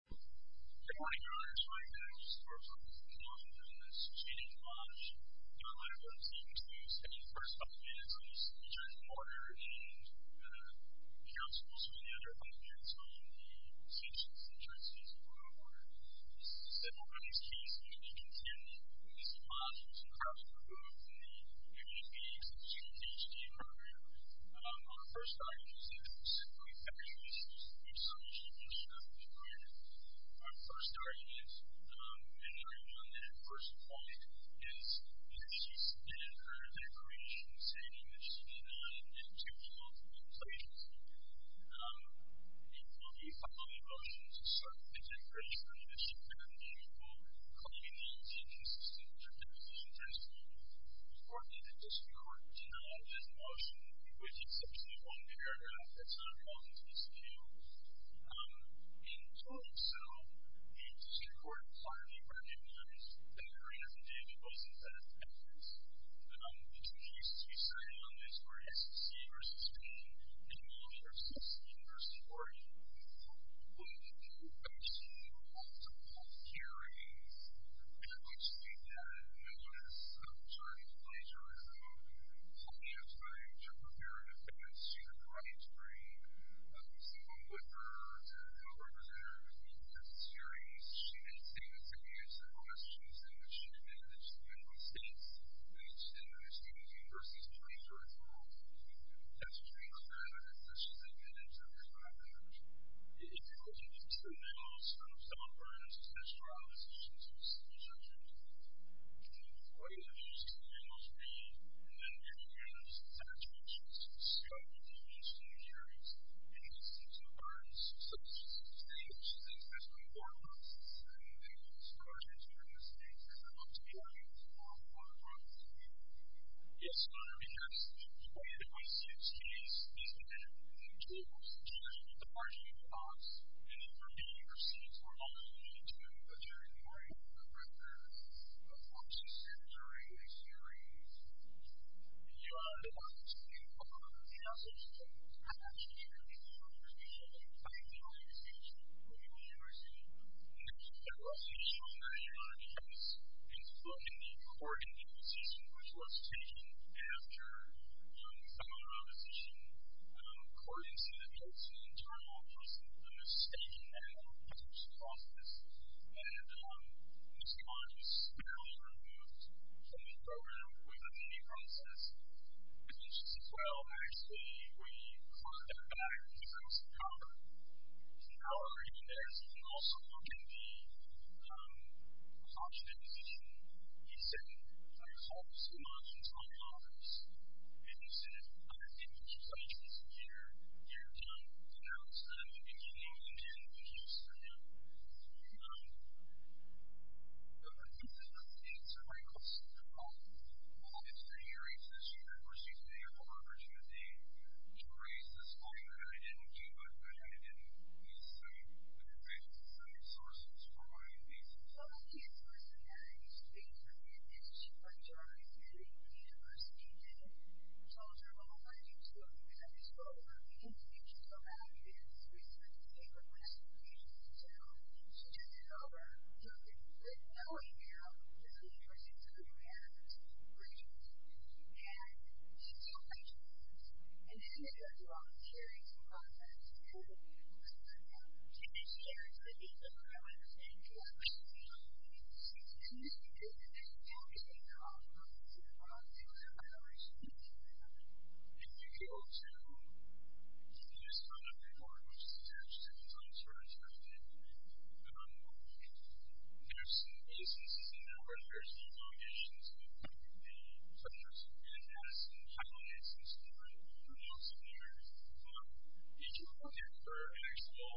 I'd like to ask my colleagues for a brief comment on this change in law. You're allowed to continue speaking for a couple of minutes on these changes in order, and counsel will spend the other five minutes on the changes in terms of the law order. Several of these cases, as you can see on the policy, have improved the community pediatrics and students' HD program. Our first argument is that it was simply fictitious. It's something she just happened to find. Our first argument, and I'm going to end on that first point, is that she spent her decorations and images in two remote locations. It will be a couple of emotions. It's certainly been temporary for me, but she could have been, quote, claiming that she didn't see what she was doing, and it's important to note this motion, which is simply one paragraph. That's not wrong. It's two. In doing so, it's important to clearly recognize that her inactivity wasn't that of evidence. The two cases we cited on this were SEC v. Spain, and also SESI v. Oregon. She had multiple hearings. I'd like to speak to that in a moment. It's a journey of plagiarism. Plenty of time to prepare an evidence. She's a crime spree. We've seen one with her. There's no representative in this series. She didn't see this evidence in the last two sentences. She admitted that she's been in the States when she said that her students' university degrees were at fault. That's a very clear evidence that she's admitted to the crime. It goes into the middle of some of her initial trial decisions, which I'll show you in a moment. What do those initials mean? And then it begins, as I mentioned, she's a student of the U.S. State University, and she's a student of our institution. So she's a student of the State, which is a national board of officers, and then she was charged with committing the same crime, which I'd like to be able to talk about in a moment. Yes, Your Honor, because the point of this case is that she was charged with departing the box and leaving the university for a long period of time, but during the course of her tenure in the series, she learned a lot. The message that was passed to her in the early years of her time in the university was that she was going to be a strong lawyer, Your Honor, because in the court in the position which was taken after some of her opposition, court institutes an internal process of understanding the prosecution process, and Ms. Devon is fairly removed from the program with a name process. At age 12, actually, we brought her back to the House of Congress. In our reading there, as you can also look in the approach to that position, he said, I'm going to call Ms. Dumont into my office, and he said, I'm going to give you two questions, and you're done. And now it's time to begin your interviews, Your Honor. Ms. Dumont, this is Ms. Devon. Yes, Your Honor. Ms. Devon, it's great to hear you. It's an honor for me to have the opportunity to raise this question, and I didn't think about that. I didn't, at least, I mean, I didn't raise it as a resource. It was for my own reasons. Well, I can tell you, Your Honor, it's great to hear that Ms. Devon is charged with leaving the university, and we told her, well, why did you do it? Why did you do it? Well, we didn't teach her how to do it. And we sent a paper question to Ms. Devon, and she took it over, took it over, knowing how the university is going to react to the questions, and she took my questions, and then they went through all the hearings and process, and it was a lot of work. And they shared the details of what I was saying to Ms. Devon. She's committed to the faculty, and I'm committed to the faculty, and I'm committed to the faculty. If you go to the list on the report, which is attached to Ms. Armstrong's record, there's some instances in there where there's some allegations that the centers in Madison, Highland High School, are not similar. You can go there for an actual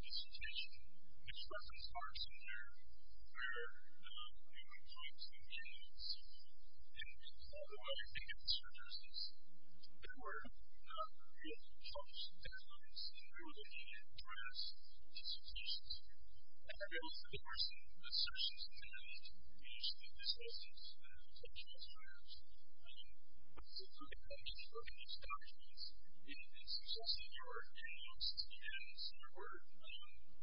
dissertation. There are some parts in there where we would point to the elements, and while you're thinking of the circumstances, there were real chunks and deadlines, and we were looking at grants and solicitations, and there were some assertions in there that we actually disclosed it to the potential students, but we couldn't come in and look at these documents. And it's interesting, there were emails and there were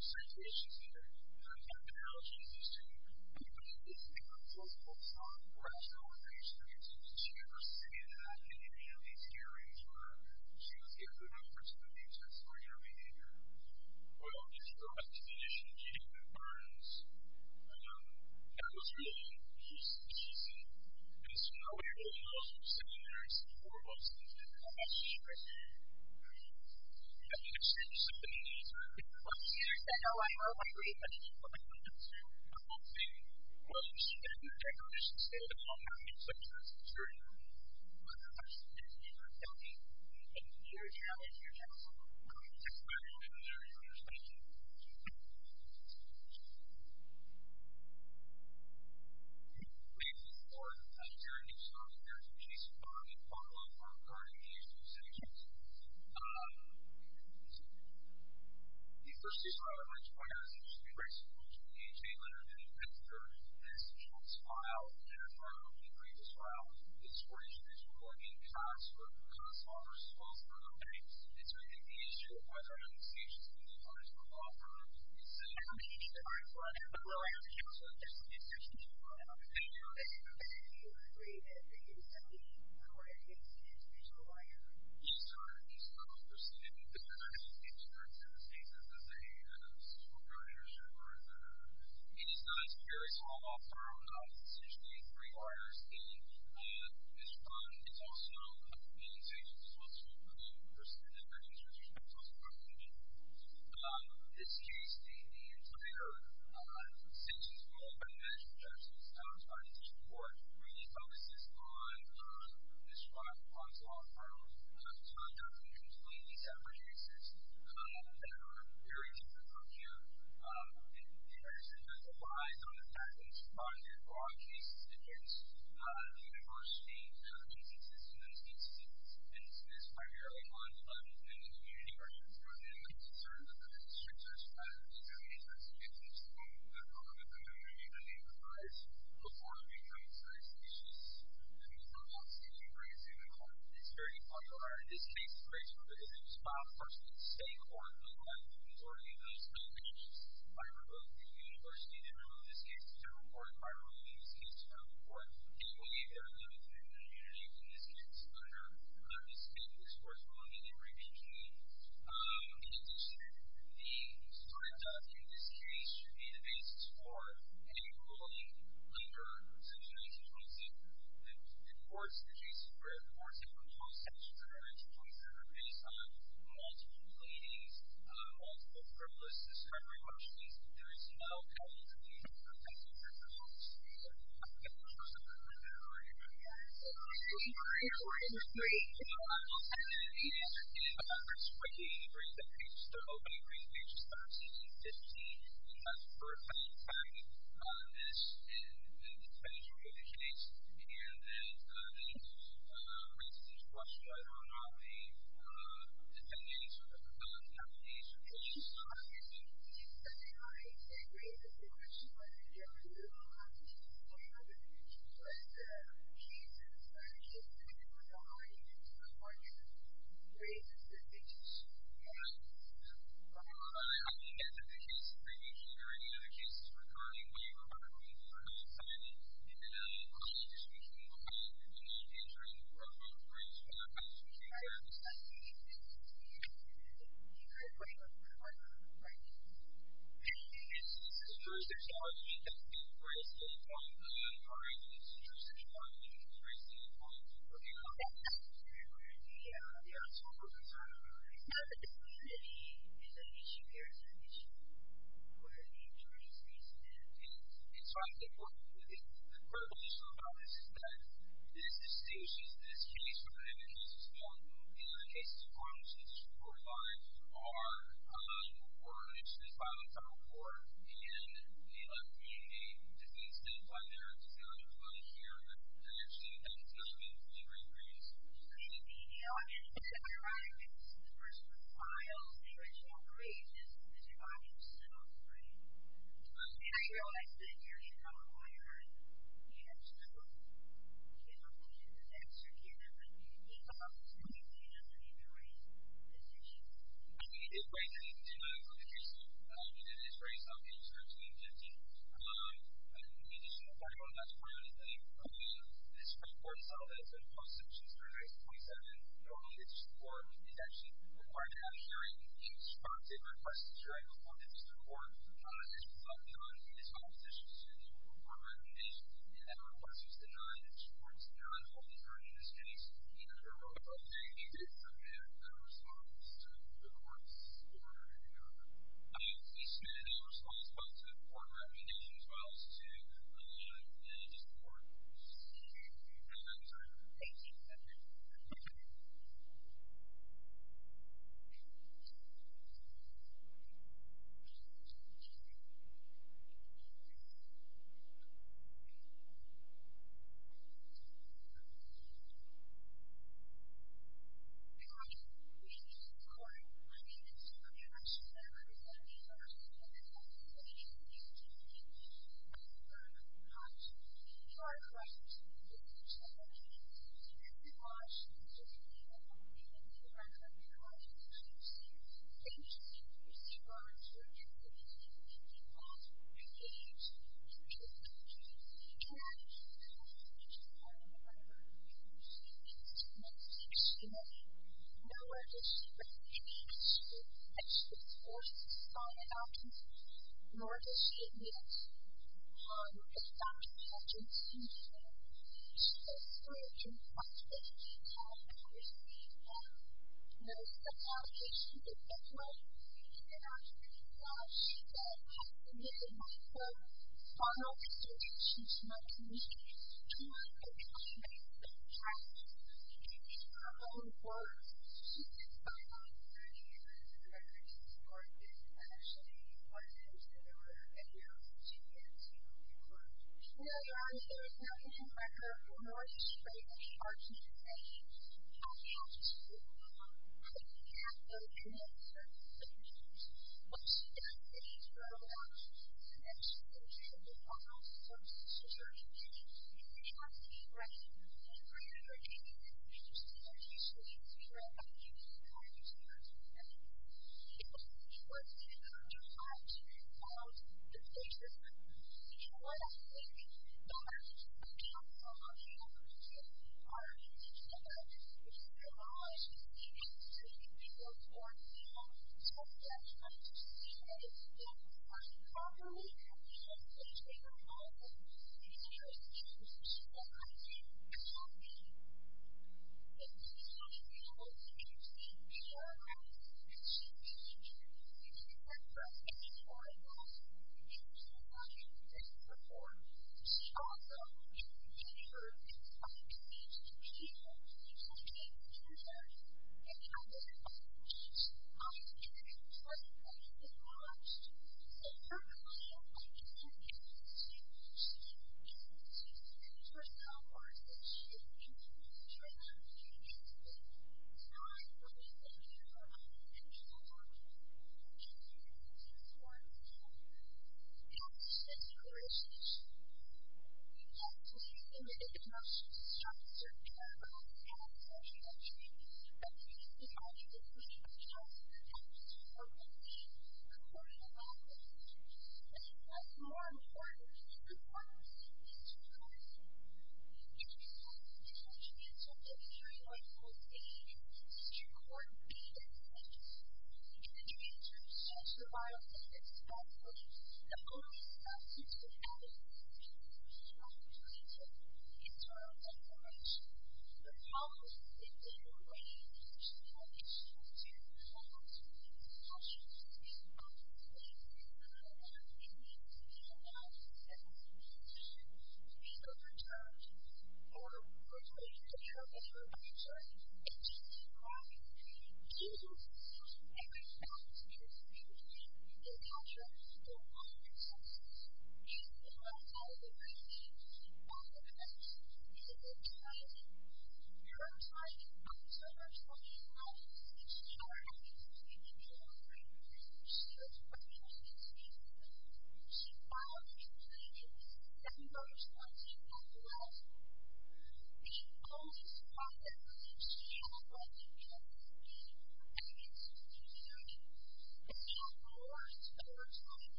citations there, and there were analogies as to what we were listening to, but both folks were asking all three students, did you ever see that in any of these hearings, or did you see a good opportunity to explain your behavior? Well, just to go back to the issue of Judith Burns, that was really just teasing, and it's kind of weird, I mean, I was there for seven years, and four of those things didn't come up. I mean, I mean, I think it's true, seven years, I know I heard what you were saying, but I'm not saying, well, you should be able to take on this, you should stay with it all, I mean, it's so true. But the question is, is there a healthy, and you would challenge your counsel to come in and explain it in their intersection? We have one more, and it's very new, so I'm going to go to Jason Barney, follow up on a part of the issues that you said. Okay, let me see if I can find it. The first issue I would like to point out is that you should be very supportive of the H.A. letter that you have prepared, and it's a short file, and I found it on the previous file, and it's where you should be supportive, and it's not a small response from the bank, it's an issue of whether an application is being authorized by law firms. Hello, I'm Jason Barney, and I'm here to talk about the H.A. letter. Yes, sir, it's not understood because I just came straight to the state that this is a short file issue. I mean, it's not as if you're a small law firm, it's usually a three-quarter thing, and it's also a community thing, so it's not understood in the H.A. that it's also a public issue. This case, the entire sentence followed by the measure of justice that I was trying to teach you before really focuses on this short file on small law firms, so I'm not going to explain these ever cases that are very difficult to view. The H.A. sentence applies on the fact that it's provided for all cases, and it's the university and the agency system that it's used in, and it's primarily on and the community versions of it, and the concerns of the district are stressed and the H.A. sentence is used on the part of the community to name the price before it becomes very specious, and it's not about the state and the agency, and it's very popular. In this case, the graceful criticism is filed first with the state or the law firm or the agency, which is primarily the university, generally in this case, the federal court, primarily in this case, the federal court, and will be very limited in the community in this case under the state discourse and will be limited in the community in addition, the sort of, in this case, should be the basis for any ruling later such as 1927. The courts, the cases where the courts have proposed such a correction based on multiple blatings, multiple frivolous discriminatory motions, and there is no penalty for the offense under federal law in this case. I mean, as in the case previously heard, and other cases recurring, when you're arguing for non-signing in an unlawful indiscretion, you will find the community is really broken, So, there is, there's argument that the graceful point of this case is that there is no penalty for the offense under federal law in this case. I mean, I'm not arguing it's intersectional argument, it's graceful point, you know. Yeah, yeah. So, is an issue here, it's an issue where the injury is reasonable. And, and so I think what is revolutionary about this is that this, this case is, this case is one in which this court finds our underlying reward, which this violent child reward. And, the, the disease that is under the decision of the judge here, the the decision of the judge here, the decision of the judge here, the diagnosis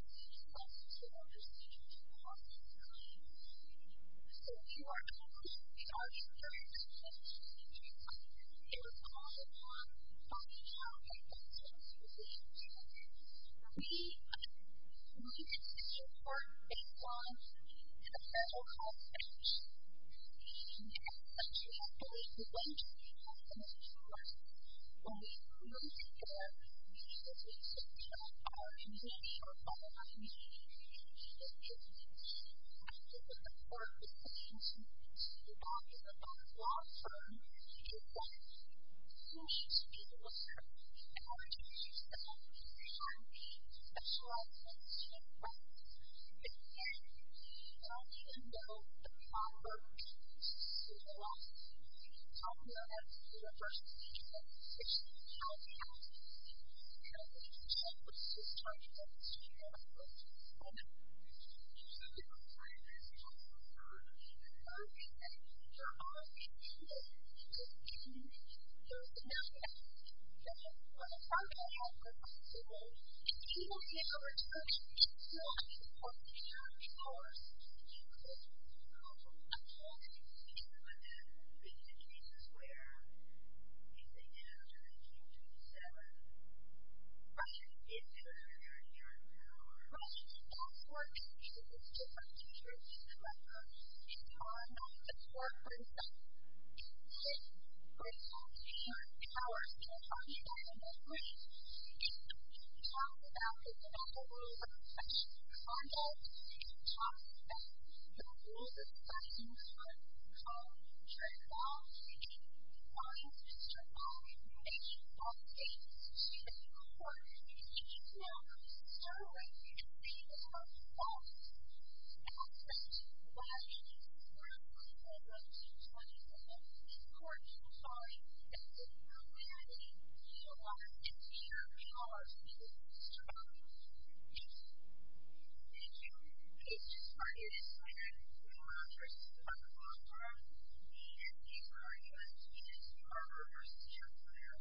child reward with autre medication for treatment out which I hope will be a great way to understand what's going on. I'm going to move forward and talk to you about a few things. I'm going to talk to you about how we can help to understand what's going on. So, we are going to be talking about our experience with HIV. I'm going to be able to talk a lot about how I felt when I was HIV positive. For me, I'm really interested in the work that's going on in the federal health service. And I actually have always believed that we have to make sure that when we really get there, that we take care of our community, our families, and our children. And I think it's important for me to talk to the public long-term, and have an obsession with discrimination and how it affects people. And I even know the one woman who recently lost her son in a battle with HIV, and at this time committed suicide, but she's alive. My son came into my life as a father and father came with a condition that he couldn't know what it was but I knew he was going to make it out of work because he knew that no matter what he did up to LAI and OBTI there was no end in sight. I wanted to be with him because he was where he is now in 1927. Russia is his very own home. Russia is just like any other country in the world. We are not a corporate country. We have human power. People talk about it in their dreams. He talked about it a little over 6 years ago. He talked about the rule of 13B that you may be treated wrong if you do three things and then you report if you do it together. You start to right things but people start to fall on you and I think when he was 21 I thought I was a rich young man I didn't want to work so I am sorry. I don't know if it's because he was a rich young man but I think it's just part of his character and these arguments are reversed in their own way.